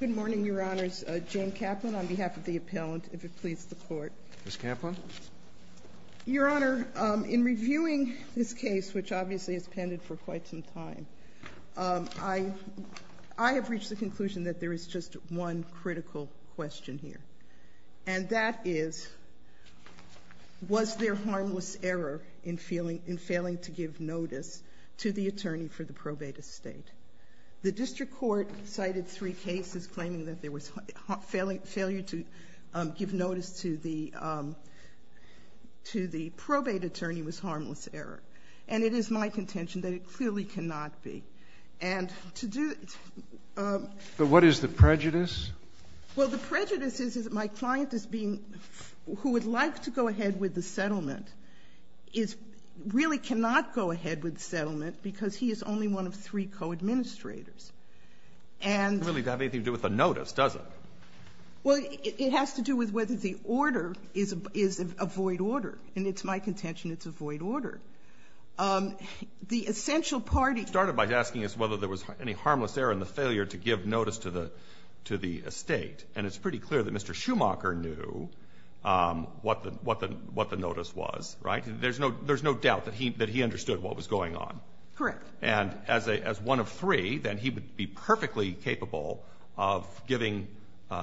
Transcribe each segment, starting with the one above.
Good morning, Your Honors. Jane Kaplan on behalf of the appellant, if it please the Court. Ms. Kaplan. Your Honor, in reviewing this case, which obviously has pended for quite some time, I have reached the conclusion that there is just one critical question here. And that is, was there harmless error in failing to give notice to the attorney for the probate estate? The district court cited three cases claiming that there was failure to give notice to the probate attorney was harmless error. And it is my contention that it clearly cannot be. But what is the prejudice? Well, the prejudice is that my client, who would like to go ahead with the settlement, really cannot go ahead with the settlement, because he is only one of three co-administrators. And — It doesn't really have anything to do with the notice, does it? Well, it has to do with whether the order is a void order. And it's my contention it's a void order. The essential part — It started by asking us whether there was any harmless error in the failure to give notice to the estate. And it's pretty clear that Mr. Schumacher knew what the notice was, right? There's no doubt that he understood what was going on. Correct. And as one of three, then he would be perfectly capable of giving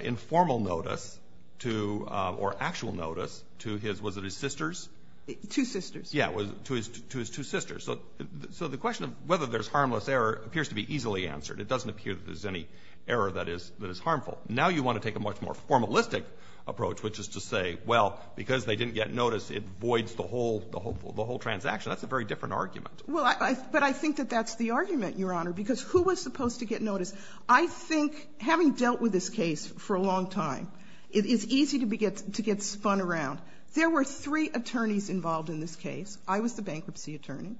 informal notice to — or actual notice to his — was it his sisters? Two sisters. Yes, to his two sisters. So the question of whether there's harmless error appears to be easily answered. It doesn't appear that there's any error that is harmful. Now you want to take a much more formalistic approach, which is to say, well, because they didn't get notice, it voids the whole — the whole transaction. That's a very different argument. Well, I — but I think that that's the argument, Your Honor, because who was supposed to get notice? I think having dealt with this case for a long time, it is easy to get spun around. There were three attorneys involved in this case. I was the bankruptcy attorney.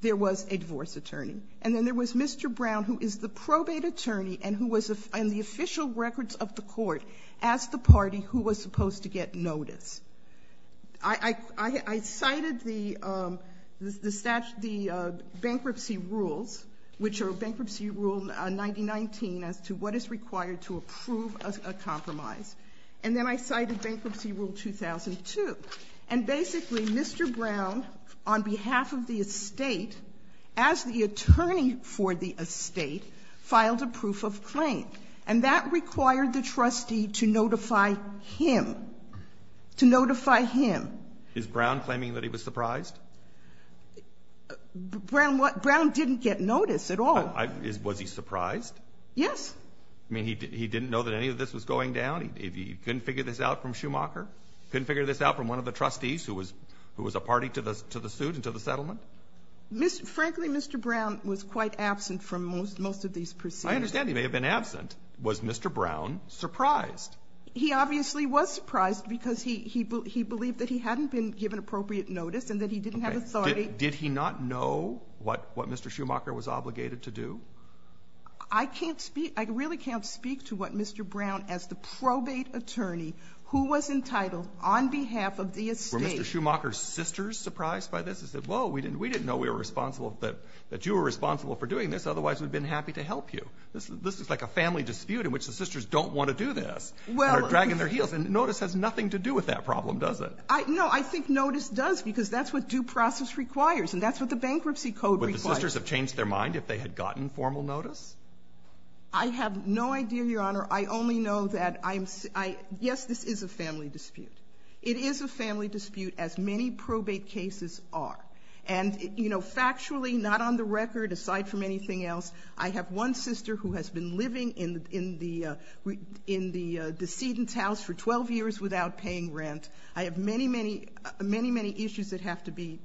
There was a divorce attorney. And then there was Mr. Brown, who is the probate attorney and who was — and the official records of the court asked the party who was supposed to get notice. I cited the bankruptcy rules, which are Bankruptcy Rule 9019, as to what is required to approve a compromise. And then I cited Bankruptcy Rule 2002. And basically, Mr. Brown, on behalf of the estate, as the attorney for the estate, filed a proof of claim. And that required the trustee to notify him, to notify him. Is Brown claiming that he was surprised? Brown didn't get notice at all. Was he surprised? Yes. I mean, he didn't know that any of this was going down? He couldn't figure this out from Schumacher? He couldn't figure this out from one of the trustees who was a party to the suit and to the settlement? Frankly, Mr. Brown was quite absent from most of these proceedings. I understand he may have been absent. Was Mr. Brown surprised? He obviously was surprised because he believed that he hadn't been given appropriate notice and that he didn't have authority. Did he not know what Mr. Schumacher was obligated to do? I can't speak — I really can't speak to what Mr. Brown, as the probate attorney who was entitled on behalf of the estate — Were Mr. Schumacher's sisters surprised by this? He said, whoa, we didn't know we were responsible — that you were responsible for doing this, otherwise we'd have been happy to help you. This is like a family dispute in which the sisters don't want to do this and are dragging their heels. And notice has nothing to do with that problem, does it? No. I think notice does, because that's what due process requires and that's what the Bankruptcy Code requires. Would the sisters have changed their mind if they had gotten formal notice? I have no idea, Your Honor. I only know that I'm — yes, this is a family dispute. It is a family dispute, as many probate cases are. And, you know, factually, not on the record, aside from anything else, I have one sister who has been living in the decedent's house for 12 years without paying rent. I have many, many issues that have to be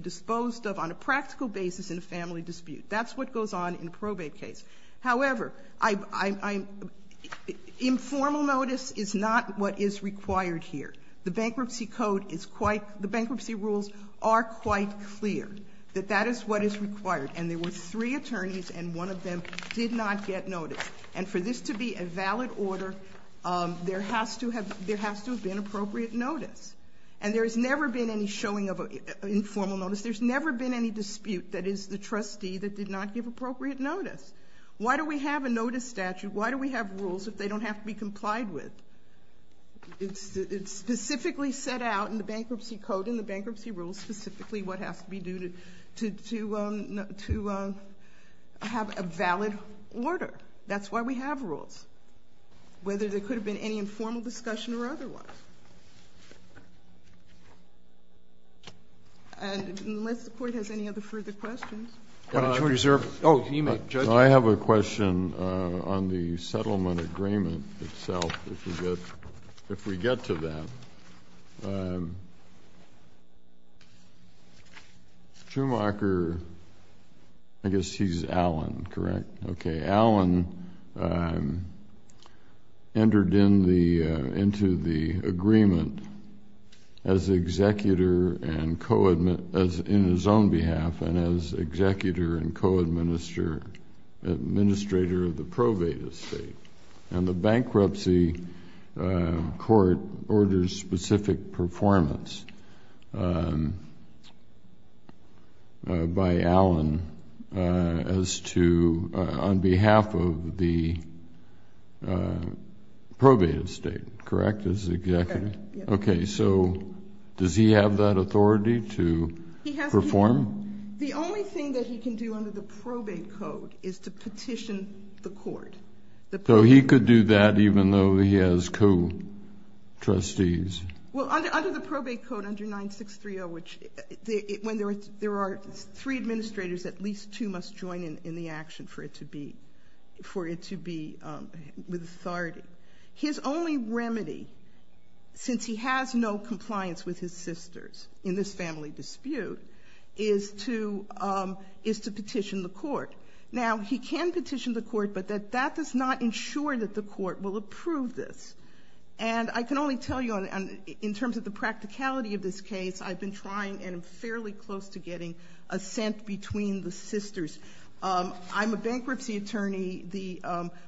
disposed of on a practical basis in a family dispute. That's what goes on in a probate case. However, I — informal notice is not what is required here. The Bankruptcy Code is quite — the bankruptcy rules are quite clear that that is what is required. And there were three attorneys and one of them did not get notice. And for this to be a valid order, there has to have — there has to have been appropriate notice. And there has never been any showing of informal notice. There's never been any dispute that is the trustee that did not give appropriate notice. Why do we have a notice statute? Why do we have rules if they don't have to be complied with? It's specifically set out in the Bankruptcy Code, in the bankruptcy rules, specifically what has to be due to have a valid order. That's why we have rules, whether there could have been any informal discussion or otherwise. And unless the Court has any other further questions. I have a question on the settlement agreement itself, if we get to that. Schumacher — I guess he's Allen, correct? Okay. — entered into the agreement as executor and co-admin — in his own behalf and as executor and co-administrator of the probate estate. And the bankruptcy court orders specific performance by Allen as to — on behalf of the probate estate, correct? As executor? Correct, yes. Okay, so does he have that authority to perform? He has to. The only thing that he can do under the probate code is to petition the court. So he could do that even though he has co-trustees? Well, under the probate code, under 9630, which — when there are three administrators, at least two must join in the action for it to be — for it to be with authority. His only remedy, since he has no compliance with his sisters in this family dispute, is to petition the court. Now, he can petition the court, but that does not ensure that the court will approve this. And I can only tell you on — in terms of the practicality of this case, I've been trying and am fairly close to getting assent between the sisters. I'm a bankruptcy attorney. The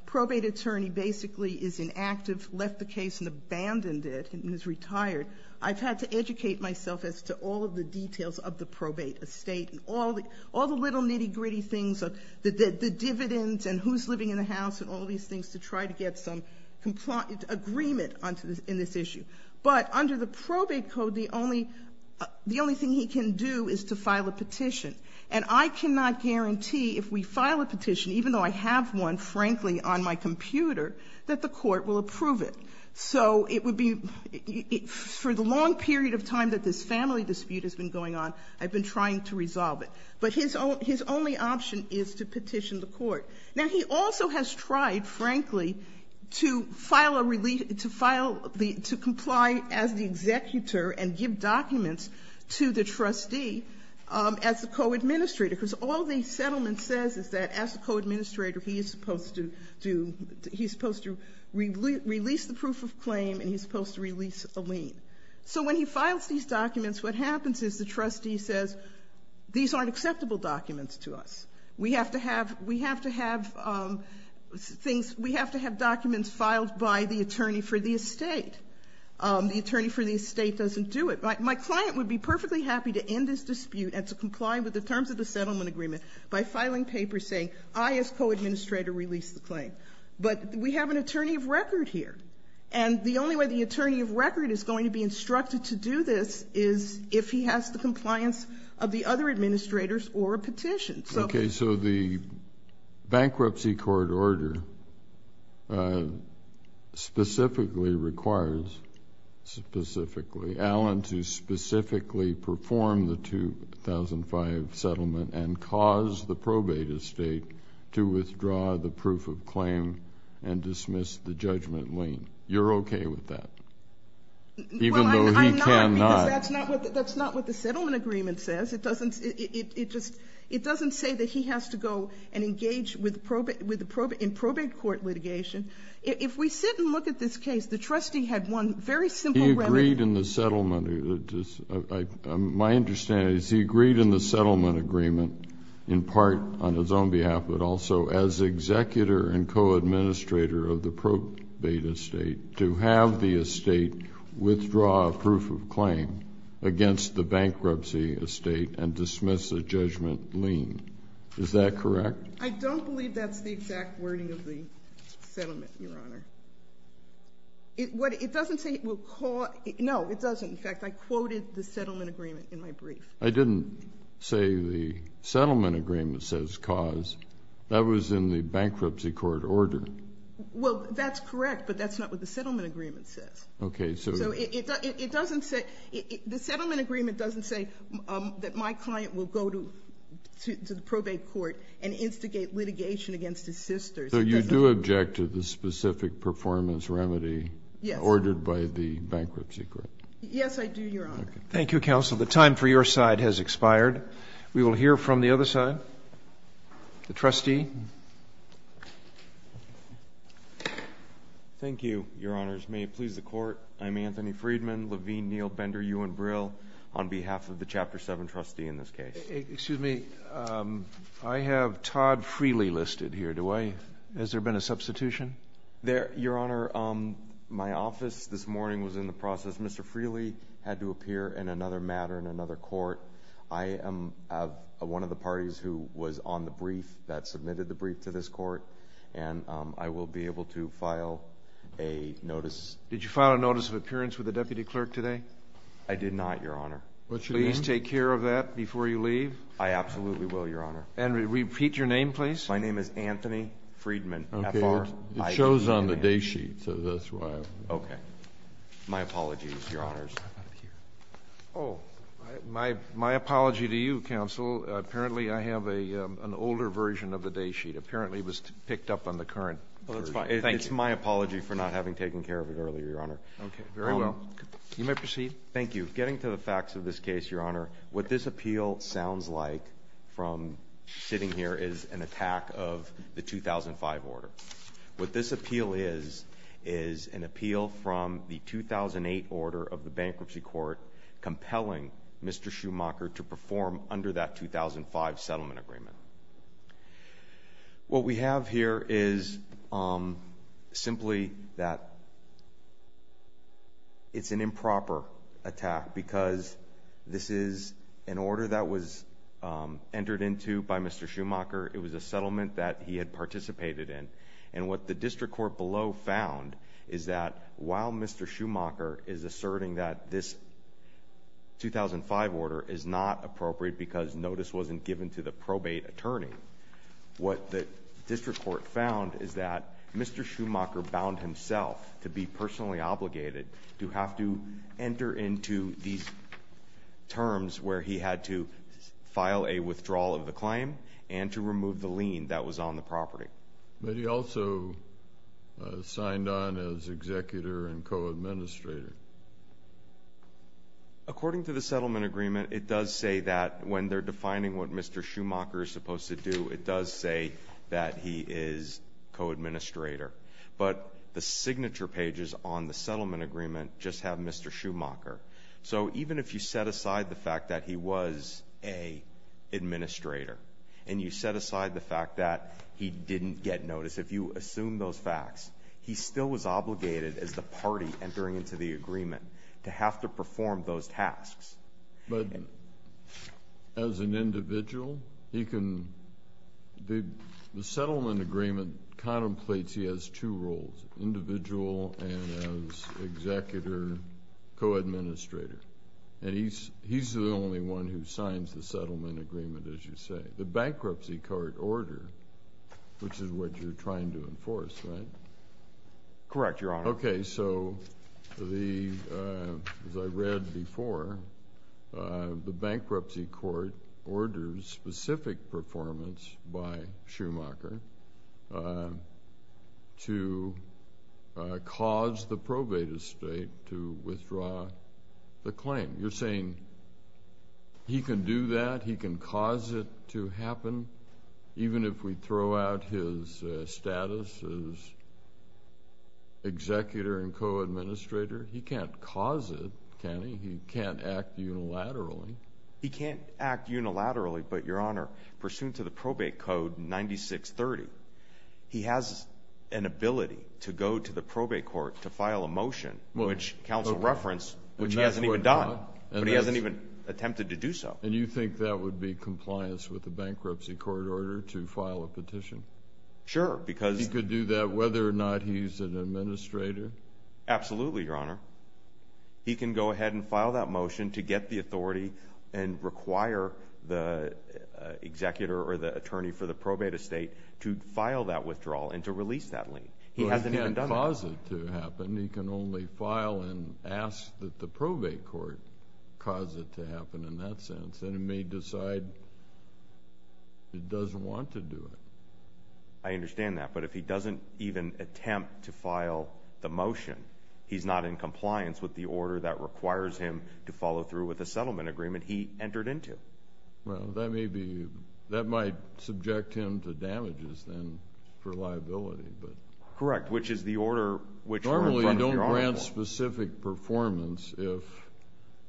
probate attorney basically is inactive, left the case and abandoned it and is retired. I've had to educate myself as to all of the details of the probate estate and all the little nitty-gritty things, the dividends and who's living in the house and all these things to try to get some agreement in this issue. But under the probate code, the only — the only thing he can do is to file a petition. And I cannot guarantee if we file a petition, even though I have one, frankly, on my computer, that the court will approve it. So it would be — for the long period of time that this family dispute has been going on, I've been trying to resolve it. But his only option is to petition the court. Now, he also has tried, frankly, to file a — to comply as the executor and give documents to the trustee as the co-administrator. Because all the settlement says is that as the co-administrator, he is supposed to do — he's supposed to release the proof of claim and he's supposed to release a lien. So when he files these documents, what happens is the trustee says, these aren't acceptable documents to us. We have to have — we have to have things — we have to have documents filed by the attorney for the estate. The attorney for the estate doesn't do it. My client would be perfectly happy to end this dispute and to comply with the terms of the settlement agreement by filing papers saying, I as co-administrator release the claim. But we have an attorney of record here. And the only way the attorney of record is going to be instructed to do this is if he has the compliance of the other administrators or a petition. Okay. So the bankruptcy court order specifically requires, specifically, Allen to specifically perform the 2005 settlement and cause the probate estate to withdraw the proof of claim and dismiss the judgment lien. You're okay with that? Well, I'm not. Even though he cannot. Because that's not what the settlement agreement says. It doesn't — it just — it doesn't say that he has to go and engage with the probate — in probate court litigation. If we sit and look at this case, the trustee had one very simple remedy. He agreed in the settlement. My understanding is he agreed in the settlement agreement in part on his own behalf, but also as executor and co-administrator of the probate estate to have the estate withdraw a proof of claim against the bankruptcy estate and dismiss a judgment lien. Is that correct? I don't believe that's the exact wording of the settlement, Your Honor. It doesn't say it will cause — no, it doesn't. In fact, I quoted the settlement agreement in my brief. I didn't say the settlement agreement says cause. That was in the bankruptcy court order. Well, that's correct, but that's not what the settlement agreement says. Okay. So it doesn't say — the settlement agreement doesn't say that my client will go to the probate court and instigate litigation against his sister. So you do object to the specific performance remedy ordered by the bankruptcy court? Yes, I do, Your Honor. Thank you, counsel. The time for your side has expired. We will hear from the other side. The trustee. Thank you, Your Honors. May it please the Court, I'm Anthony Friedman, Levine, Neal, Bender, Ewan Brill, on behalf of the Chapter 7 trustee in this case. Excuse me. I have Todd Frehley listed here. Do I — has there been a substitution? Your Honor, my office this morning was in the process. Mr. Frehley had to appear in another matter in another court. I am one of the parties who was on the brief that submitted the brief to this court, and I will be able to file a notice. Did you file a notice of appearance with the deputy clerk today? I did not, Your Honor. What's your name? Please take care of that before you leave. I absolutely will, Your Honor. And repeat your name, please. My name is Anthony Friedman, F-R-I-E-D-M-A-N. Okay, it shows on the day sheet, so that's why. Okay. My apologies, Your Honors. Oh, my apology to you, Counsel. Apparently, I have an older version of the day sheet. Apparently, it was picked up on the current version. Well, that's fine. Thank you. It's my apology for not having taken care of it earlier, Your Honor. Okay, very well. You may proceed. Thank you. Getting to the facts of this case, Your Honor, what this appeal sounds like from sitting here is an attack of the 2005 order. What this appeal is is an appeal from the 2008 order of the bankruptcy court compelling Mr. Schumacher to perform under that 2005 settlement agreement. What we have here is simply that it's an improper attack because this is an order that was entered into by Mr. Schumacher. It was a settlement that he had participated in. What the district court below found is that while Mr. Schumacher is asserting that this 2005 order is not appropriate because notice wasn't given to the probate attorney, what the district court found is that Mr. Schumacher bound himself to be personally obligated to enter into these terms where he had to file a withdrawal of the claim and to remove the lien that was on the property. But he also signed on as executor and co-administrator. According to the settlement agreement, it does say that when they're defining what Mr. Schumacher is supposed to do, it does say that he is co-administrator. But the signature pages on the settlement agreement just have Mr. Schumacher. So even if you set aside the fact that he was a administrator and you set aside the fact that he didn't get notice, if you assume those facts, he still was obligated as the party entering into the agreement to have to perform those tasks. But as an individual, the settlement agreement contemplates he has two roles, individual and as executor, co-administrator. And he's the only one who signs the settlement agreement, as you say. The bankruptcy court order, which is what you're trying to enforce, right? Correct, Your Honor. Okay. So as I read before, the bankruptcy court orders specific performance by Schumacher to cause the probate estate to withdraw the claim. You're saying he can do that? He can cause it to happen? Even if we throw out his status as executor and co-administrator? He can't cause it, can he? He can't act unilaterally. He can't act unilaterally, but, Your Honor, pursuant to the probate code 9630, he has an ability to go to the probate court to file a motion, which counsel referenced, which he hasn't even done. But he hasn't even attempted to do so. And you think that would be compliance with the bankruptcy court order to file a petition? Sure, because... He could do that whether or not he's an administrator? Absolutely, Your Honor. He can go ahead and file that motion to get the authority and require the executor or the attorney for the probate estate to file that withdrawal and to release that lien. He hasn't even done that. Well, he can't cause it to happen. He can only file and ask that the probate court cause it to happen in that sense. And he may decide he doesn't want to do it. I understand that. But if he doesn't even attempt to file the motion, he's not in compliance with the order that requires him to follow through with the settlement agreement he entered into. Well, that may be... That might subject him to damages then for liability. Correct, which is the order which... Normally, you don't grant specific performance if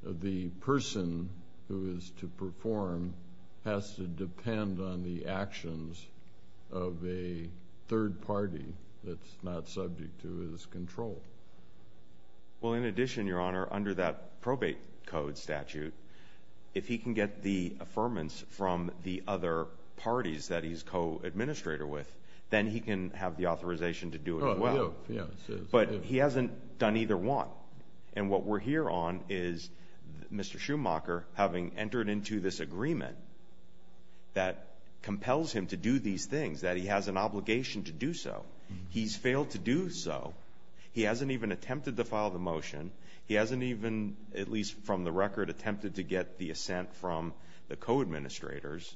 the person who is to perform has to depend on the actions of a third party that's not subject to his control. Well, in addition, Your Honor, under that probate code statute, if he can get the affirmance from the other parties that he's co-administrator with, then he can have the authorization to do it as well. But he hasn't done either one. And what we're here on is Mr. Schumacher having entered into this agreement that compels him to do these things, that he has an obligation to do so. He's failed to do so. He hasn't even attempted to file the motion. He hasn't even, at least from the record, attempted to get the assent from the co-administrators.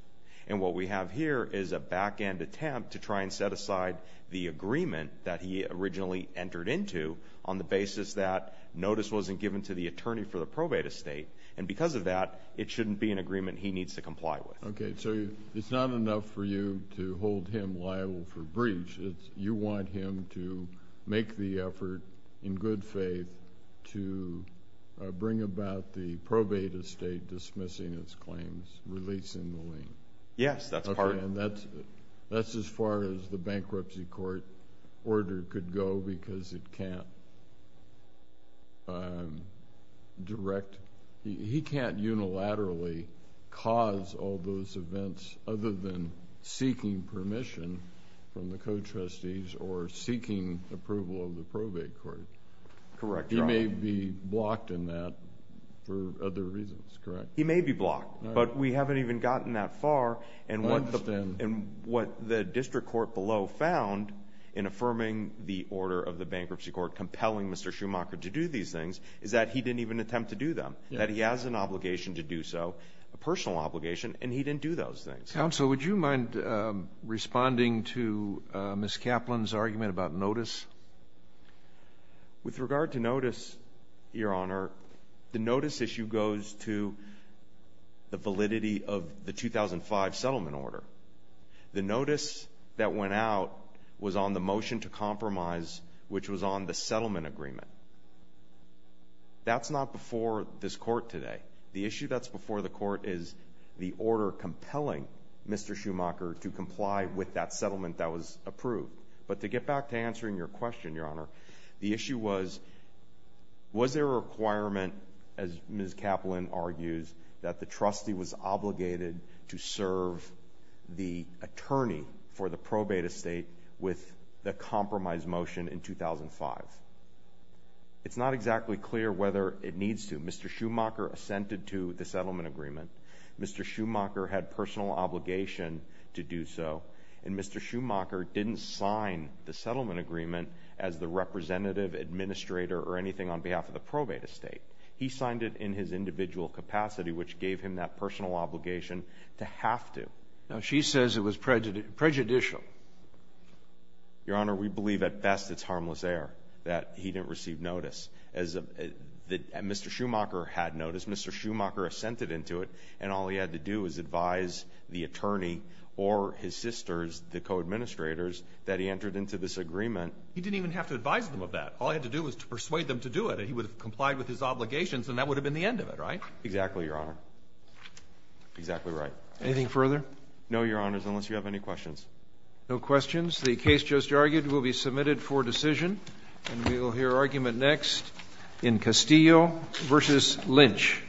And what we have here is a back-end attempt to try and set aside the agreement that he originally entered into on the basis that notice wasn't given to the attorney for the probate estate. And because of that, it shouldn't be an agreement he needs to comply with. Okay, so it's not enough for you to hold him liable for breach. You want him to make the effort in good faith to bring about the probate estate dismissing its claims, releasing the lien. Yes, that's part of it. Okay, and that's as far as the bankruptcy court order could go because it can't direct. He can't unilaterally cause all those events other than seeking permission from the co-trustees or seeking approval of the probate court. Correct, Your Honor. He may be blocked in that for other reasons, correct? He may be blocked, but we haven't even gotten that far. I understand. And what the district court below found in affirming the order of the bankruptcy court compelling Mr. Schumacher to do these things is that he didn't even attempt to do them, that he has an obligation to do so, a personal obligation, and he didn't do those things. Counsel, would you mind responding to Ms. Kaplan's argument about notice? With regard to notice, Your Honor, the notice issue goes to the validity of the 2005 settlement order. The notice that went out was on the motion to compromise, which was on the settlement agreement. That's not before this court today. The issue that's before the court is the order compelling Mr. Schumacher to comply with that settlement that was approved. But to get back to answering your question, Your Honor, the issue was, was there a requirement, as Ms. Kaplan argues, that the trustee was obligated to serve the attorney for the probate estate with the compromise motion in 2005? It's not exactly clear whether it needs to. Mr. Schumacher assented to the settlement agreement. Mr. Schumacher had personal obligation to do so. And Mr. Schumacher didn't sign the settlement agreement as the representative, administrator, or anything on behalf of the probate estate. He signed it in his individual capacity, which gave him that personal obligation to have to. Now, she says it was prejudicial. Your Honor, we believe at best it's harmless error that he didn't receive notice. As Mr. Schumacher had notice, Mr. Schumacher assented into it, and all he had to do was advise the attorney or his sisters, the co-administrators, that he entered into this agreement. He didn't even have to advise them of that. All he had to do was to persuade them to do it, and he would have complied with his obligations, and that would have been the end of it, right? Exactly, Your Honor. Exactly right. Anything further? No, Your Honors, unless you have any questions. No questions. The case just argued will be submitted for decision. And we will hear argument next in Castillo v. Lynch.